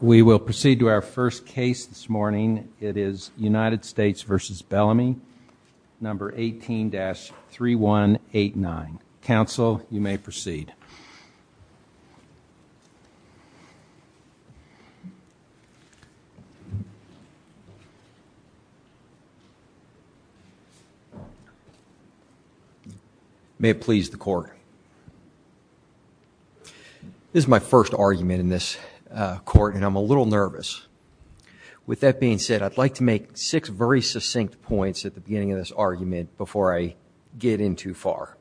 We will proceed to our first case this morning. It is United States v. Bellamy, number 18-3189. Counsel, you may proceed. May it please the court. This is my first argument in this court and I'm a little nervous. With that being said, I'd like to make six very succinct points at the beginning of this argument before I get in too far.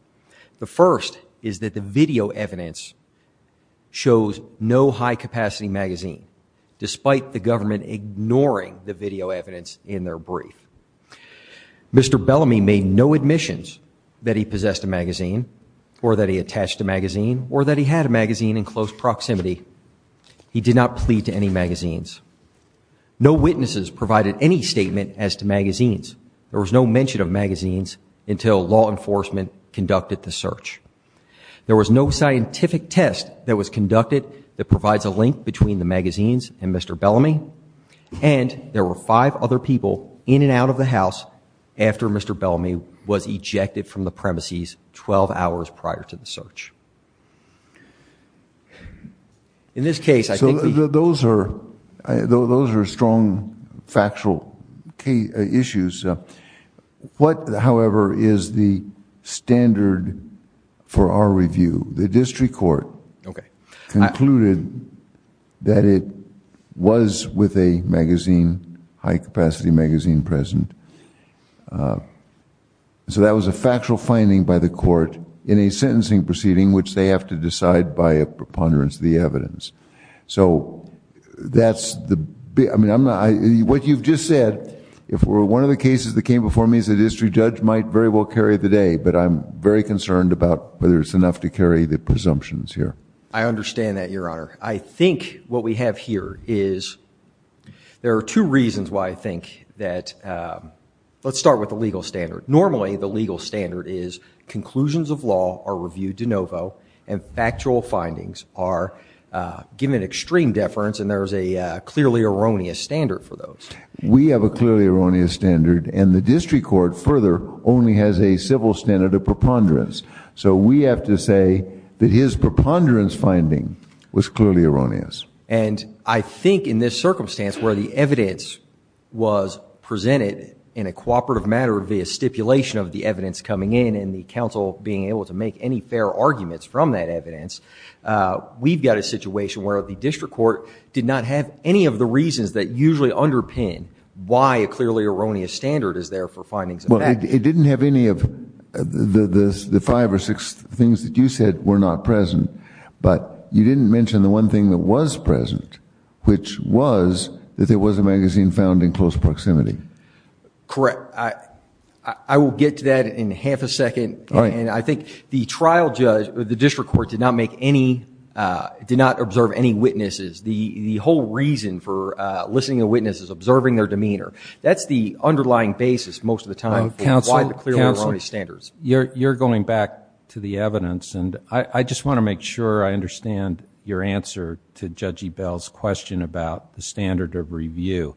The first is that the video evidence shows no high-capacity magazine, despite the government ignoring the video evidence in their brief. Mr. Bellamy made no admissions that he possessed a magazine or that he attached a magazine or that he had a magazine in close proximity. He did not plead to any magazines. No witnesses provided any statement as to magazines. There was no mention of magazines until law enforcement conducted the search. There was no scientific test that was conducted that provides a link between the magazines and Mr. Bellamy. And there were five other people in and out of the house after Mr. Bellamy was ejected from the premises 12 hours prior to the search. In this case, I think... So those are strong factual issues. What, however, is the standard for our review? The district court concluded that it was with a magazine, high-capacity magazine, present. So that was a factual finding by the court in a sentencing proceeding, which they have to decide by a preponderance of the evidence. So that's the... I mean, I'm not... What you've just said, if one of the cases that came before me as a district judge, might very well carry the day. But I'm very concerned about whether it's enough to carry the presumptions here. I understand that, Your Honor. I think what we have here is... There are two reasons why I think that... Let's start with the legal standard. Normally, the legal standard is conclusions of law are reviewed de novo and factual findings are given extreme deference. And there is a clearly erroneous standard for those. We have a clearly erroneous standard. And the district court, further, only has a civil standard of preponderance. So we have to say that his preponderance finding was clearly erroneous. And I think in this circumstance where the evidence was presented in a cooperative manner via stipulation of the evidence coming in and the counsel being able to make any fair arguments from that evidence, we've got a situation where the district court did not have any of the reasons that usually underpin why a clearly erroneous standard is there for findings of facts. Well, it didn't have any of the five or six things that you said were not present, but you didn't mention the one thing that was present, which was that there was a magazine found in close proximity. Correct. I will get to that in half a second. And I think the trial judge or the district court did not make any... did not observe any witnesses. The whole reason for listening to witnesses is observing their demeanor. That's the underlying basis most of the time for why the clearly erroneous standards. Counsel, you're going back to the evidence, and I just want to make sure I understand your answer to Judge Ebell's question about the standard of review.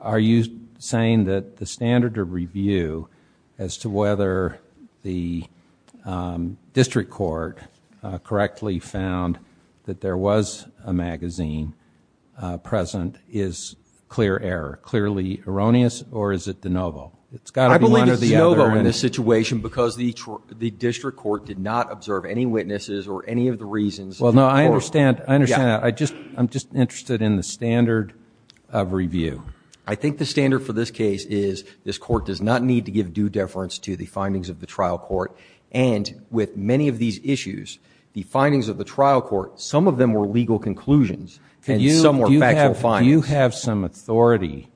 Are you saying that the standard of review as to whether the district court correctly found that there was a magazine present is clear error, clearly erroneous, or is it de novo? It's got to be one or the other. I believe it's de novo in this situation because the district court did not observe any witnesses or any of the reasons. Well, no, I understand. I understand that. I'm just interested in the standard of review. I think the standard for this case is this court does not need to give due deference to the findings of the trial court, and with many of these issues, the findings of the trial court, some of them were legal conclusions, and some were factual findings. Do you have some authority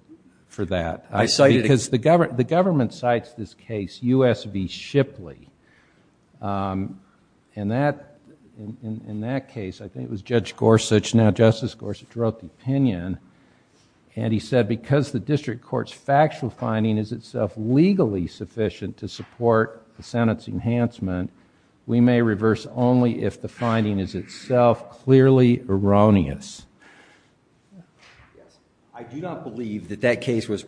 for that? I cited it. Because the government cites this case, U.S. v. Shipley. In that case, I think it was Judge Gorsuch, now Justice Gorsuch, wrote the opinion, and he said because the district court's factual finding is itself legally sufficient to support the Senate's enhancement, we may reverse only if the finding is itself clearly erroneous. I do not believe that that case was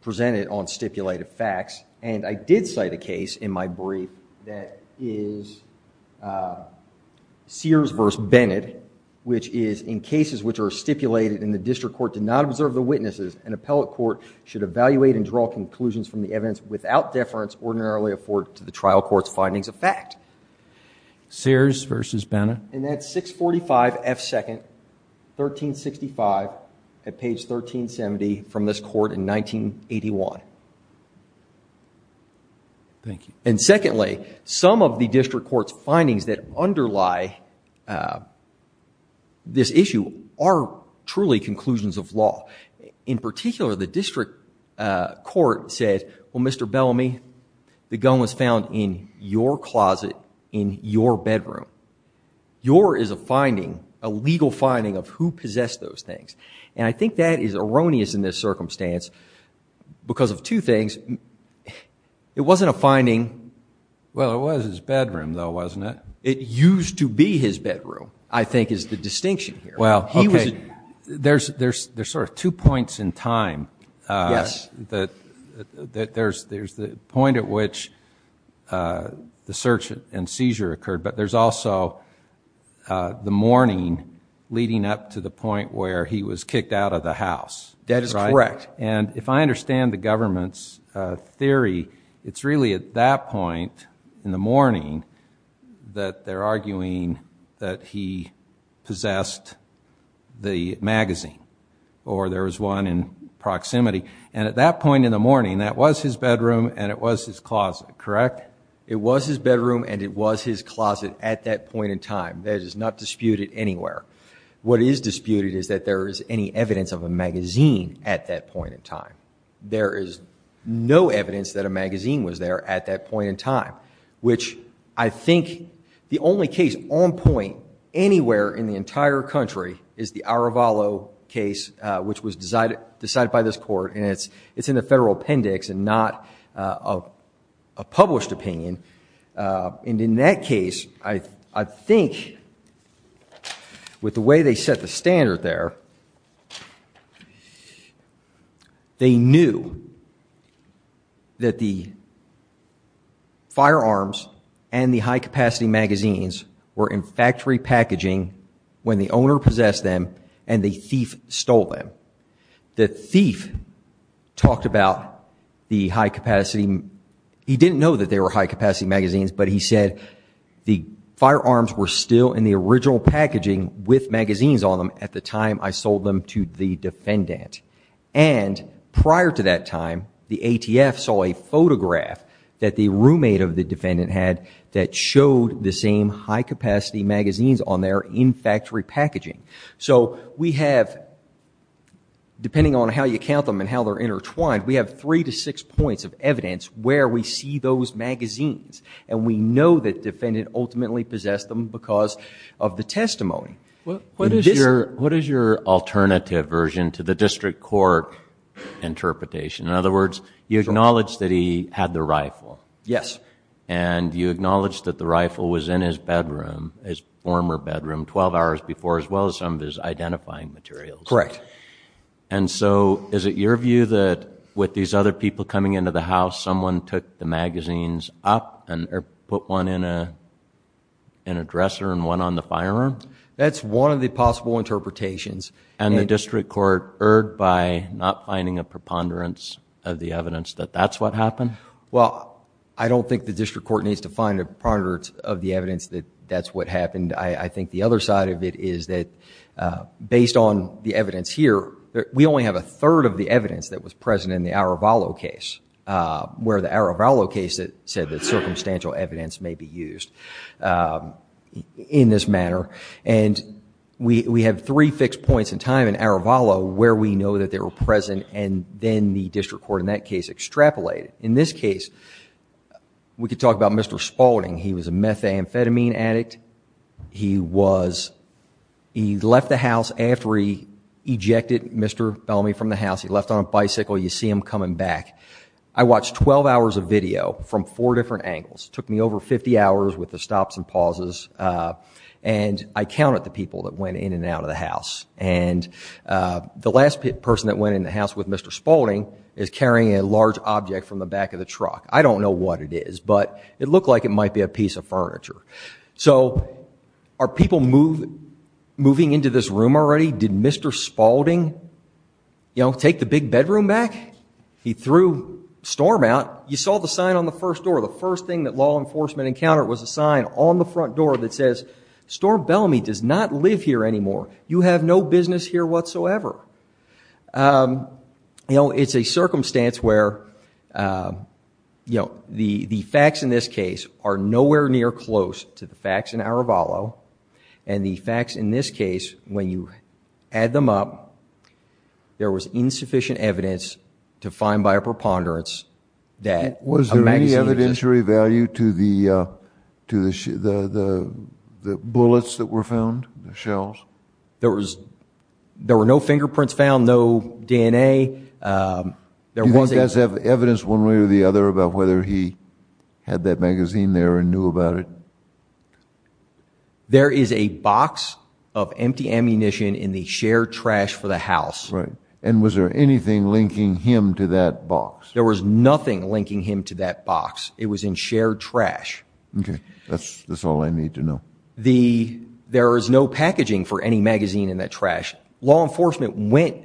presented on stipulated facts, and I did cite a case in my brief that is Sears v. Bennett, which is in cases which are stipulated in the district court did not observe the witnesses, an appellate court should evaluate and draw conclusions from the evidence without deference ordinarily afforded to the trial court's findings of fact. Sears v. Bennett? And that's 645 F. Second, 1365 at page 1370 from this court in 1981. Thank you. And secondly, some of the district court's findings that underlie this issue are truly conclusions of law. In particular, the district court said, well, Mr. Bellamy, the gun was found in your closet in your bedroom. Your is a finding, a legal finding of who possessed those things, and I think that is erroneous in this circumstance because of two things. It wasn't a finding. Well, it was his bedroom, though, wasn't it? It used to be his bedroom, I think is the distinction here. Well, okay, there's sort of two points in time. Yes. There's the point at which the search and seizure occurred, but there's also the morning leading up to the point where he was kicked out of the house. That is correct. And if I understand the government's theory, it's really at that point in the morning that they're arguing that he possessed the magazine, or there was one in proximity. And at that point in the morning, that was his bedroom and it was his closet, correct? It was his bedroom and it was his closet at that point in time. That is not disputed anywhere. What is disputed is that there is any evidence of a magazine at that point in time. There is no evidence that a magazine was there at that point in time, which I think the only case on point anywhere in the entire country is the Aravalo case, which was decided by this court, and it's in the federal appendix and not a published opinion. And in that case, I think with the way they set the standard there, they knew that the firearms and the high-capacity magazines were in factory packaging when the owner possessed them and the thief stole them. The thief talked about the high-capacity. He didn't know that they were high-capacity magazines, but he said the firearms were still in the original packaging with magazines on them at the time I sold them to the defendant. And prior to that time, the ATF saw a photograph that the roommate of the defendant had that showed the same high-capacity magazines on there in factory packaging. So we have, depending on how you count them and how they're intertwined, we have three to six points of evidence where we see those magazines, and we know that the defendant ultimately possessed them because of the testimony. What is your alternative version to the district court interpretation? In other words, you acknowledge that he had the rifle. Yes. And you acknowledge that the rifle was in his bedroom, his former bedroom, 12 hours before as well as some of his identifying materials. Correct. And so is it your view that with these other people coming into the house, someone took the magazines up or put one in a dresser and one on the firearm? That's one of the possible interpretations. And the district court erred by not finding a preponderance of the evidence that that's what happened? Well, I don't think the district court needs to find a preponderance of the evidence that that's what happened. I think the other side of it is that based on the evidence here, we only have a third of the evidence that was present in the Aravalo case, where the Aravalo case said that circumstantial evidence may be used in this manner. And we have three fixed points in time in Aravalo where we know that they were present, and then the district court in that case extrapolated. In this case, we could talk about Mr. Spalding. He was a methamphetamine addict. He left the house after he ejected Mr. Bellamy from the house. He left on a bicycle. You see him coming back. I watched 12 hours of video from four different angles. It took me over 50 hours with the stops and pauses, and I counted the people that went in and out of the house. And the last person that went in the house with Mr. Spalding is carrying a large object from the back of the truck. I don't know what it is, but it looked like it might be a piece of furniture. So are people moving into this room already? Did Mr. Spalding, you know, take the big bedroom back? He threw Storm out. You saw the sign on the first door. The first thing that law enforcement encountered was a sign on the front door that says, Storm Bellamy does not live here anymore. You have no business here whatsoever. You know, it's a circumstance where, you know, the facts in this case are nowhere near close to the facts in Aravalo, and the facts in this case, when you add them up, there was insufficient evidence to find by a preponderance that a magazine existed. Was there any monetary value to the bullets that were found, the shells? There were no fingerprints found, no DNA. Did these guys have evidence one way or the other about whether he had that magazine there and knew about it? There is a box of empty ammunition in the shared trash for the house. Right. And was there anything linking him to that box? There was nothing linking him to that box. It was in shared trash. Okay. That's all I need to know. There is no packaging for any magazine in that trash. Law enforcement went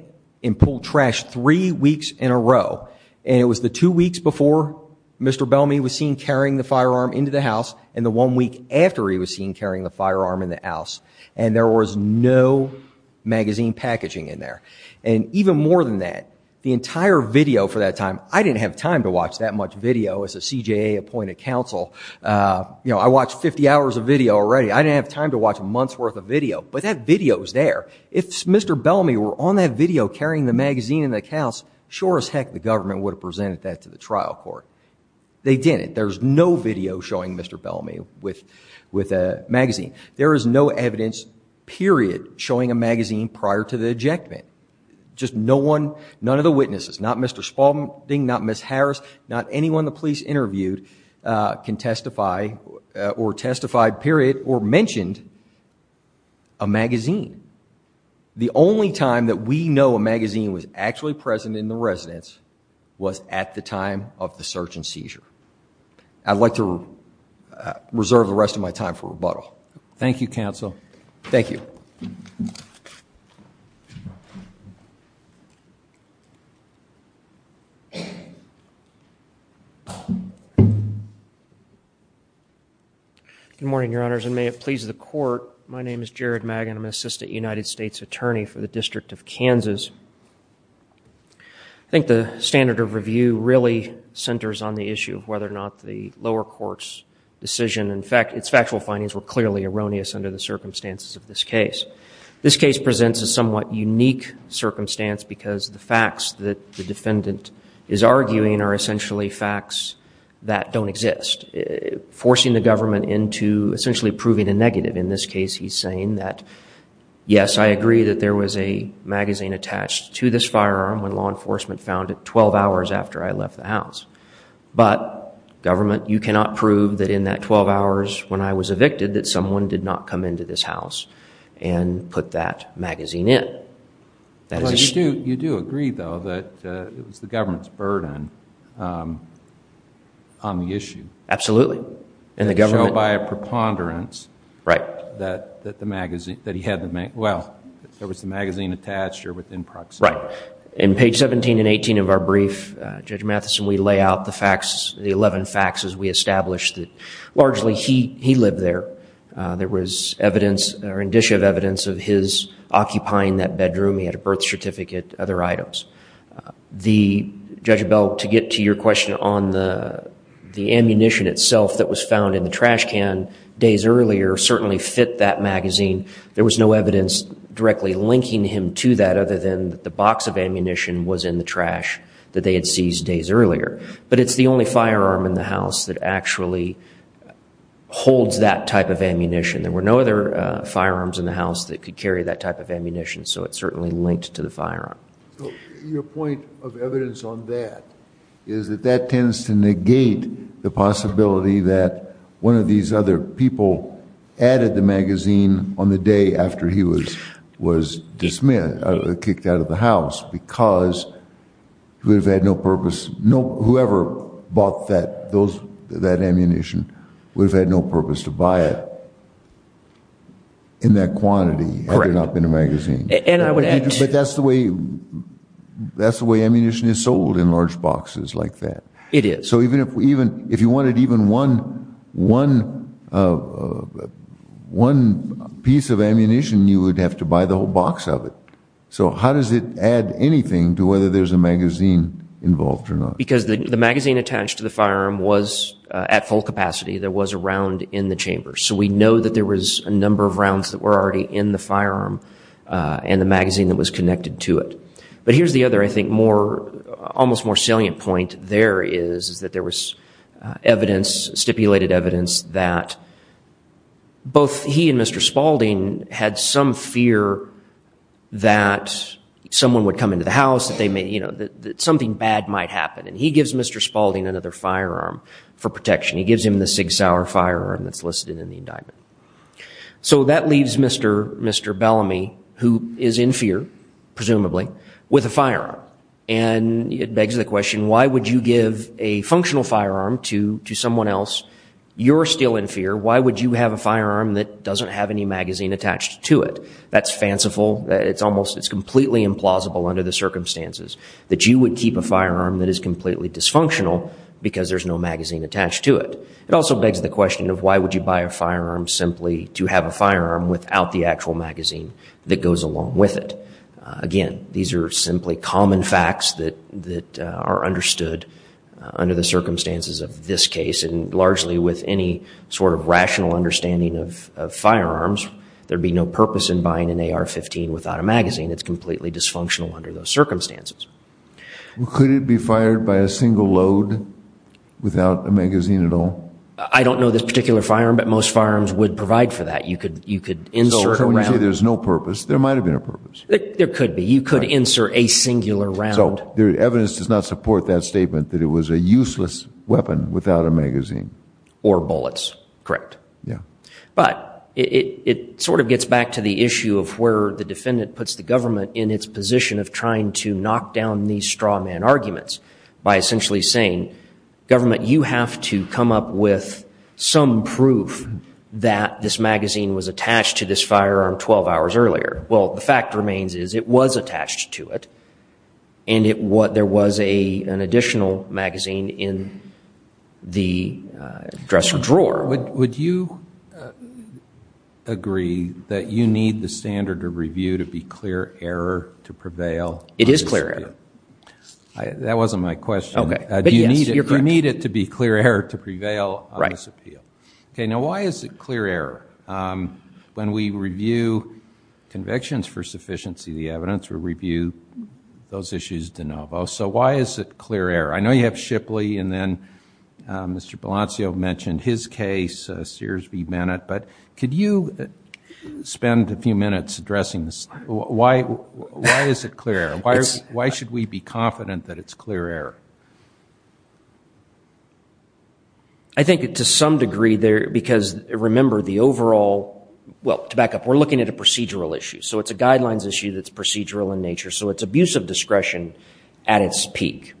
and pulled trash three weeks in a row, and it was the two weeks before Mr. Bellamy was seen carrying the firearm into the house and the one week after he was seen carrying the firearm in the house, and there was no magazine packaging in there. And even more than that, the entire video for that time, I didn't have time to watch that much video as a CJA appointed counsel. I watched 50 hours of video already. I didn't have time to watch a month's worth of video, but that video was there. If Mr. Bellamy were on that video carrying the magazine in the house, sure as heck the government would have presented that to the trial court. They didn't. There's no video showing Mr. Bellamy with a magazine. There is no evidence, period, showing a magazine prior to the ejectment. Just no one, none of the witnesses, not Mr. Spaulding, not Ms. Harris, not anyone the police interviewed can testify or testified, period, or mentioned a magazine. The only time that we know a magazine was actually present in the residence I'd like to reserve the rest of my time for rebuttal. Thank you, counsel. Thank you. Good morning, Your Honors, and may it please the court. My name is Jared Magan. I'm an assistant United States attorney for the District of Kansas. I think the standard of review really centers on the issue of whether or not the lower court's decision and its factual findings were clearly erroneous under the circumstances of this case. This case presents a somewhat unique circumstance because the facts that the defendant is arguing are essentially facts that don't exist, forcing the government into essentially proving a negative. In this case, he's saying that, yes, I agree that there was a magazine attached to this firearm when law enforcement found it twelve hours after I left the house. But, government, you cannot prove that in that twelve hours when I was evicted that someone did not come into this house and put that magazine in. You do agree, though, that it was the government's burden on the issue. Absolutely. And the government... Showed by a preponderance... Right.... that the magazine... that he had the magazine... Well, there was the magazine attached or within proximity. Right. In page seventeen and eighteen of our brief, Judge Matheson, we lay out the facts, the eleven facts as we established that largely he lived there. There was evidence or indicia of evidence of his occupying that bedroom. He had a birth certificate, other items. The... Judge Bell, to get to your question on the ammunition itself that was found in the trash can days earlier certainly fit that magazine. There was no evidence directly linking him to that other than the box of ammunition was in the trash that they had seized days earlier. But it's the only firearm in the house that actually holds that type of ammunition. There were no other firearms in the house that could carry that type of ammunition, so it certainly linked to the firearm. Your point of evidence on that is that that tends to negate the possibility that one of these other people added the magazine on the day after he was dismissed, kicked out of the house because he would have had no purpose. Whoever bought that ammunition would have had no purpose to buy it in that quantity... Correct.... had there not been a magazine. And I would add... But that's the way ammunition is sold in large boxes like that. It is. So even if you wanted even one piece of ammunition, you would have to buy the whole box of it. So how does it add anything to whether there's a magazine involved or not? Because the magazine attached to the firearm was at full capacity. There was a round in the chamber. So we know that there was a number of rounds that were already in the firearm and the magazine that was connected to it. But here's the other, I think, almost more salient point there is, is that there was evidence, stipulated evidence, that both he and Mr. Spaulding had some fear that someone would come into the house, that something bad might happen. And he gives Mr. Spaulding another firearm for protection. He gives him the Sig Sauer firearm that's listed in the indictment. So that leaves Mr. Bellamy, who is in fear, presumably, with a firearm. And it begs the question, why would you give a functional firearm to someone else? You're still in fear. Why would you have a firearm that doesn't have any magazine attached to it? That's fanciful. It's almost completely implausible under the circumstances that you would keep a firearm that is completely dysfunctional because there's no magazine attached to it. It also begs the question of why would you buy a firearm simply to have a firearm without the actual magazine that goes along with it? Again, these are simply common facts that are understood under the circumstances of this case. And largely with any sort of rational understanding of firearms, there would be no purpose in buying an AR-15 without a magazine. It's completely dysfunctional under those circumstances. Could it be fired by a single load without a magazine at all? I don't know this particular firearm, but most firearms would provide for that. You could insert a round. So when you say there's no purpose, there might have been a purpose. There could be. You could insert a singular round. So the evidence does not support that statement that it was a useless weapon without a magazine. Or bullets. Correct. Yeah. But it sort of gets back to the issue of where the defendant puts the government in its position of trying to knock down these straw man arguments by essentially saying, government, you have to come up with some proof that this magazine was attached to this firearm 12 hours earlier. Well, the fact remains is it was attached to it, and there was an additional magazine in the dresser drawer. Robert, would you agree that you need the standard of review to be clear error to prevail? It is clear error. That wasn't my question. Okay. But yes, you're correct. Do you need it to be clear error to prevail on this appeal? Right. Okay. Now, why is it clear error? When we review convictions for sufficiency of the evidence, we review those issues de novo. So why is it clear error? I know you have Shipley, and then Mr. Balancio mentioned his case, Sears v. Bennett. But could you spend a few minutes addressing this? Why is it clear error? Why should we be confident that it's clear error? I think to some degree because, remember, the overall, well, to back up, we're looking at a procedural issue. So it's a guidelines issue that's procedural in nature. So it's abuse of discretion at its peak.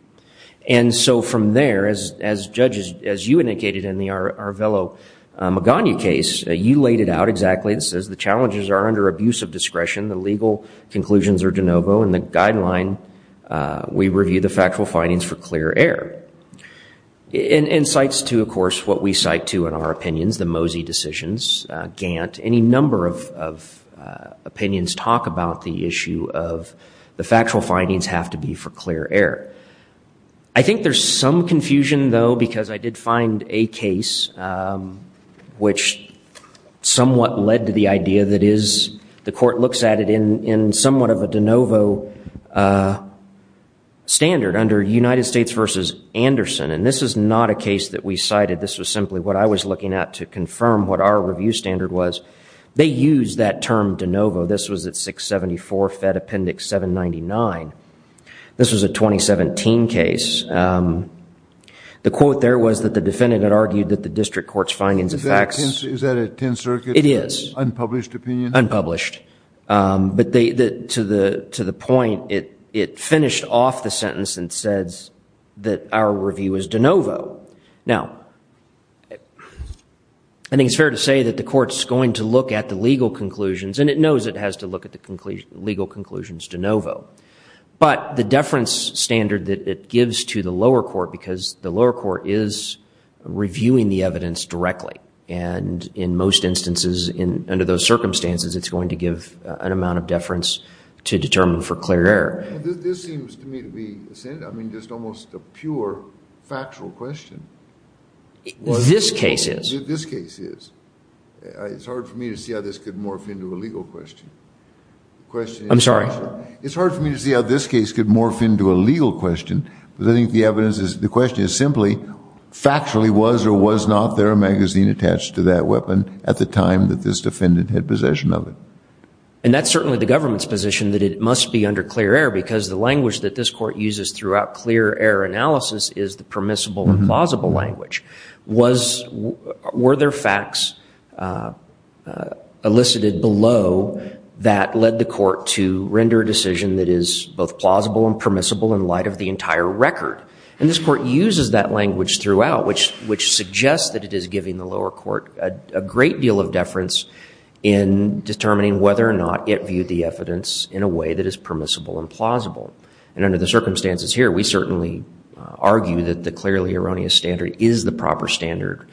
And so from there, as judges, as you indicated in the Arvelo-Magana case, you laid it out exactly. It says the challenges are under abuse of discretion, the legal conclusions are de novo, and the guideline, we review the factual findings for clear error. And cites to, of course, what we cite to in our opinions, the Mosey decisions, Gantt, any number of opinions talk about the issue of the factual findings have to be for clear error. I think there's some confusion, though, because I did find a case which somewhat led to the idea that the court looks at it in somewhat of a de novo standard under United States v. Anderson. And this is not a case that we cited. This was simply what I was looking at to confirm what our review standard was. They used that term de novo. This was at 674 Fed Appendix 799. This was a 2017 case. The quote there was that the defendant had argued that the district court's findings of facts. Is that a 10th Circuit unpublished opinion? It is. Unpublished. But to the point, it finished off the sentence and says that our review is de novo. Now, I think it's fair to say that the court's going to look at the legal conclusions, and it knows it has to look at the legal conclusions de novo, but the deference standard that it gives to the lower court, because the lower court is reviewing the evidence directly, and in most instances under those circumstances, it's going to give an amount of deference to determine for clear error. This seems to me to be, I mean, just almost a pure factual question. This case is. This case is. It's hard for me to see how this could morph into a legal question. I'm sorry? It's hard for me to see how this case could morph into a legal question, but I think the evidence is the question is simply factually was or was not there a magazine attached to that weapon at the time that this defendant had possession of it. And that's certainly the government's position that it must be under clear error because the language that this court uses throughout clear error analysis is the permissible and plausible language. Were there facts elicited below that led the court to render a decision that is both plausible and permissible in light of the entire record? And this court uses that language throughout, which suggests that it is giving the lower court a great deal of deference in determining whether or not it viewed the evidence in a way that is permissible and plausible. And under the circumstances here, we certainly argue that the clearly erroneous standard is the proper standard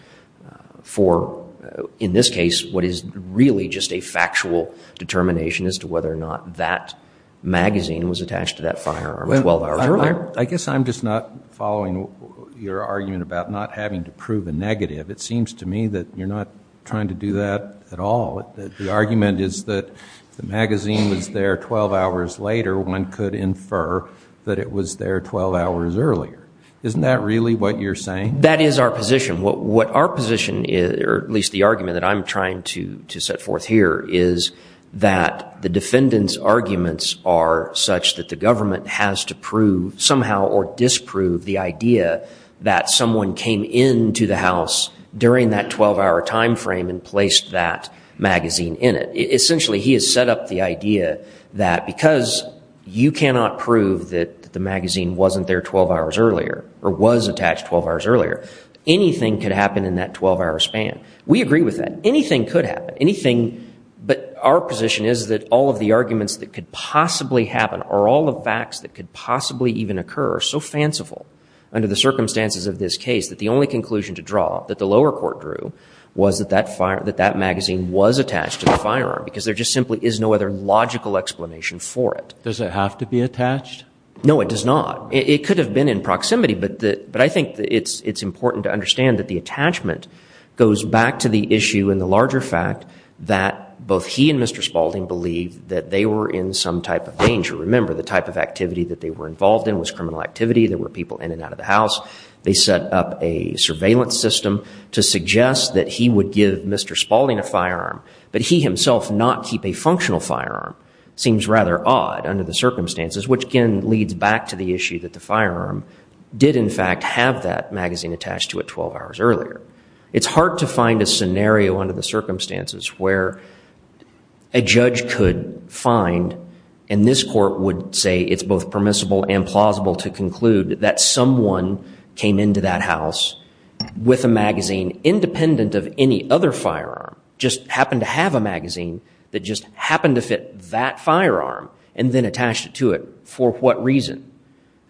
for, in this case, what is really just a factual determination as to whether or not that magazine was attached to that firearm 12 hours earlier. I guess I'm just not following your argument about not having to prove a negative. It seems to me that you're not trying to do that at all. The argument is that if the magazine was there 12 hours later, one could infer that it was there 12 hours earlier. Isn't that really what you're saying? That is our position. What our position is, or at least the argument that I'm trying to set forth here, is that the defendant's arguments are such that the government has to prove somehow or disprove the idea that someone came into the house during that 12-hour time frame and placed that magazine in it. Essentially, he has set up the idea that because you cannot prove that the magazine wasn't there 12 hours earlier or was attached 12 hours earlier, anything could happen in that 12-hour span. We agree with that. Anything could happen. But our position is that all of the arguments that could possibly happen or all the facts that could possibly even occur are so fanciful under the circumstances of this case that the only conclusion to draw that the lower court drew was that that magazine was attached to the firearm because there just simply is no other logical explanation for it. Does it have to be attached? No, it does not. It could have been in proximity, but I think it's important to understand that the attachment goes back to the issue and the larger fact that both he and Mr. Spaulding believed that they were in some type of danger. Remember, the type of activity that they were involved in was criminal activity. There were people in and out of the house. They set up a surveillance system to suggest that he would give Mr. Spaulding a firearm, but he himself not keep a functional firearm. It seems rather odd under the circumstances, which, again, leads back to the issue that the firearm did, in fact, have that magazine attached to it 12 hours earlier. It's hard to find a scenario under the circumstances where a judge could find, and this court would say it's both permissible and plausible to conclude, that someone came into that house with a magazine independent of any other firearm, just happened to have a magazine that just happened to fit that firearm and then attached it to it for what reason?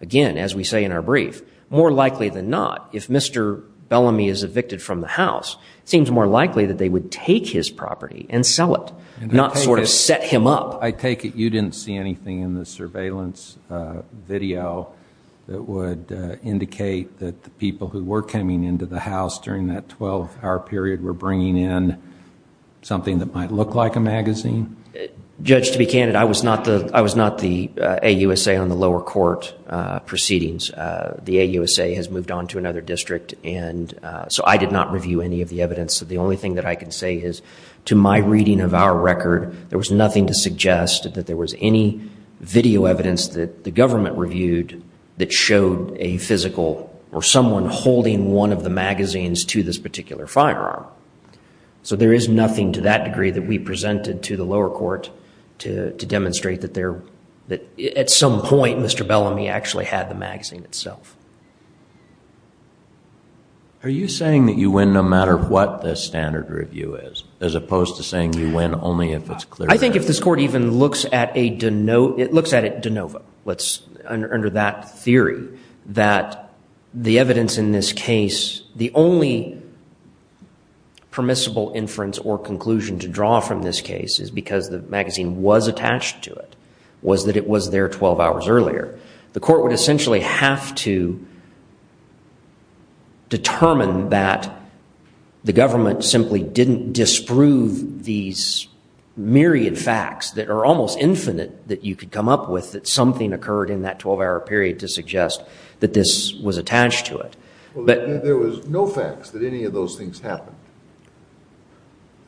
Again, as we say in our brief, more likely than not, if Mr. Bellamy is evicted from the house, it seems more likely that they would take his property and sell it, not sort of set him up. I take it you didn't see anything in the surveillance video that would indicate that the people who were coming into the house during that 12-hour period were bringing in something that might look like a magazine? Judge, to be candid, I was not the AUSA on the lower court proceedings. The AUSA has moved on to another district, and so I did not review any of the evidence. The only thing that I can say is, to my reading of our record, there was nothing to suggest that there was any video evidence that the government reviewed that showed a physical or someone holding one of the magazines to this particular firearm. So there is nothing to that degree that we presented to the lower court to demonstrate that at some point Mr. Bellamy actually had the magazine itself. Are you saying that you win no matter what the standard review is, as opposed to saying you win only if it's clear evidence? I think if this court even looks at a de novo, under that theory, that the evidence in this case, the only permissible inference or conclusion to draw from this case is because the magazine was attached to it, was that it was there 12 hours earlier. The court would essentially have to determine that the government simply didn't disprove these myriad facts that are almost infinite that you could come up with, that something occurred in that 12-hour period to suggest that this was attached to it. There was no facts that any of those things happened.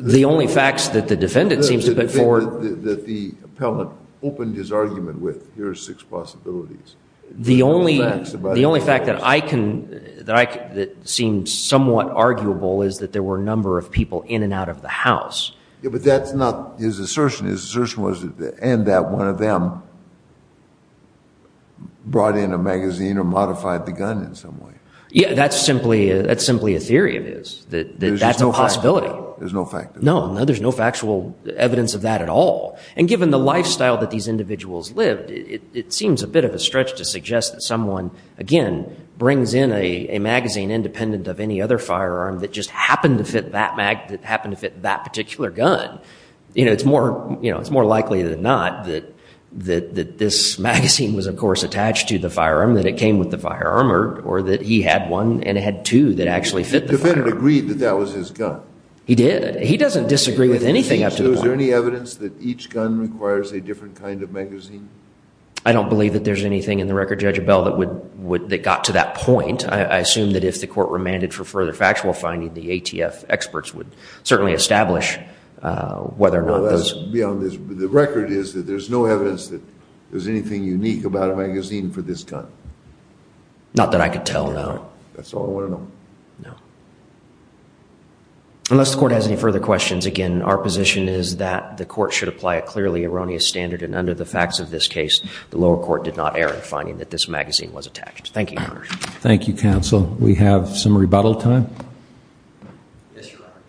The only facts that the defendant seems to put forward... The defendant that the appellant opened his argument with, here are six possibilities. The only fact that seems somewhat arguable is that there were a number of people in and out of the house. Yeah, but that's not his assertion. His assertion was that one of them brought in a magazine or modified the gun in some way. Yeah, that's simply a theory of his, that that's a possibility. There's no fact of that. No, there's no factual evidence of that at all. And given the lifestyle that these individuals lived, it seems a bit of a stretch to suggest that someone, again, brings in a magazine independent of any other firearm that just happened to fit that particular gun. It's more likely than not that this magazine was, of course, attached to the firearm, that it came with the firearm, or that he had one and had two that actually fit the firearm. The defendant agreed that that was his gun. He did. He doesn't disagree with anything up to the point. Is there any evidence that each gun requires a different kind of magazine? I don't believe that there's anything in the record, Judge Abell, that got to that point. I assume that if the court remanded for further factual finding, the ATF experts would certainly establish whether or not this— The record is that there's no evidence that there's anything unique about a magazine for this gun. Not that I could tell, no. That's all I want to know. No. Unless the court has any further questions, again, our position is that the court should apply a clearly erroneous standard and under the facts of this case, the lower court did not err in finding that this magazine was attached. Thank you, Your Honor. Thank you, counsel. We have some rebuttal time. Yes, Your Honor.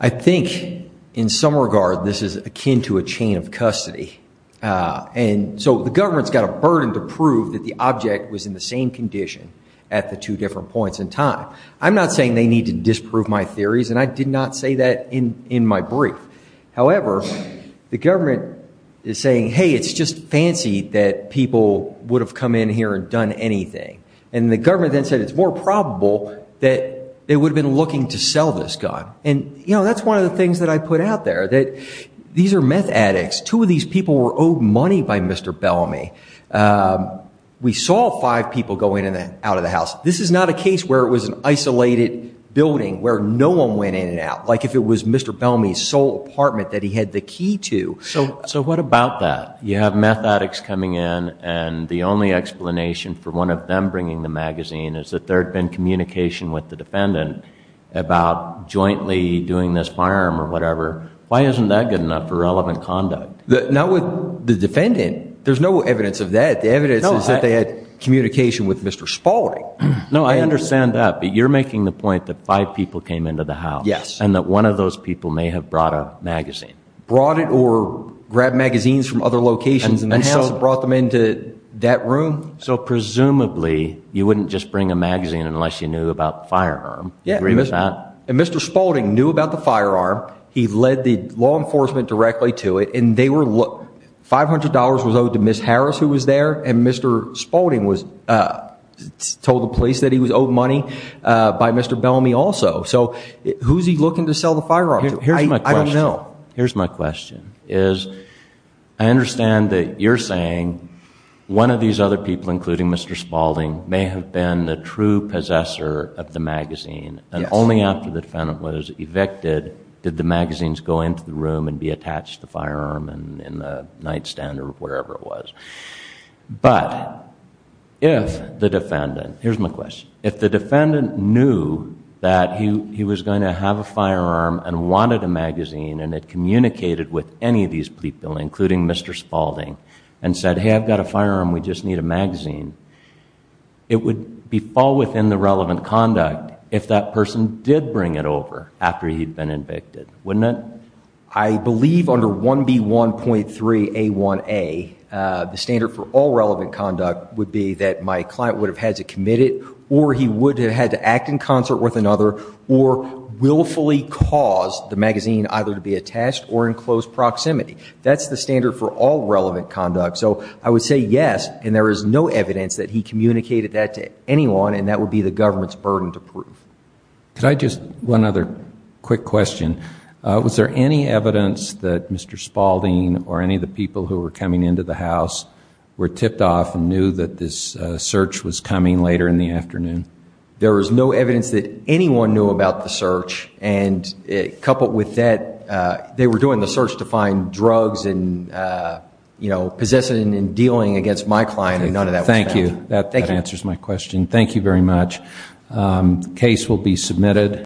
I think, in some regard, this is akin to a chain of custody. And so the government's got a burden to prove that the object was in the same condition at the two different points in time. I'm not saying they need to disprove my theories, and I did not say that in my brief. However, the government is saying, hey, it's just fancy that people would have come in here and done anything. And the government then said it's more probable that they would have been looking to sell this gun. And, you know, that's one of the things that I put out there, that these are meth addicts. Two of these people were owed money by Mr. Bellamy. This is not a case where it was an isolated building where no one went in and out, like if it was Mr. Bellamy's sole apartment that he had the key to. So what about that? You have meth addicts coming in, and the only explanation for one of them bringing the magazine is that there had been communication with the defendant about jointly doing this firearm or whatever. Why isn't that good enough for relevant conduct? Not with the defendant. There's no evidence of that. The evidence is that they had communication with Mr. Spalding. No, I understand that, but you're making the point that five people came into the house. Yes. And that one of those people may have brought a magazine. Brought it or grabbed magazines from other locations in the house and brought them into that room. So presumably you wouldn't just bring a magazine unless you knew about the firearm. Yeah. And Mr. Spalding knew about the firearm. He led the law enforcement directly to it. $500 was owed to Ms. Harris, who was there, and Mr. Spalding told the police that he was owed money by Mr. Bellamy also. So who's he looking to sell the firearm to? I don't know. Here's my question. Here's my question. I understand that you're saying one of these other people, including Mr. Spalding, may have been the true possessor of the magazine. Yes. Only after the defendant was evicted did the magazines go into the room and be attached to the firearm in the nightstand or wherever it was. But if the defendant... here's my question. If the defendant knew that he was going to have a firearm and wanted a magazine and had communicated with any of these people, including Mr. Spalding, and said, hey, I've got a firearm, we just need a magazine, it would fall within the relevant conduct if that person did bring it over after he'd been evicted, wouldn't it? I believe under 1B1.3A1A, the standard for all relevant conduct would be that my client would have had to commit it or he would have had to act in concert with another or willfully cause the magazine either to be attached or in close proximity. That's the standard for all relevant conduct. So I would say yes, and there is no evidence that he communicated that to anyone, and that would be the government's burden to prove. Could I just... one other quick question. Was there any evidence that Mr. Spalding or any of the people who were coming into the house were tipped off and knew that this search was coming later in the afternoon? There was no evidence that anyone knew about the search, and coupled with that, they were doing the search to find drugs and possessing and dealing against my client, and none of that was found. Thank you. That answers my question. Thank you very much. The case will be submitted.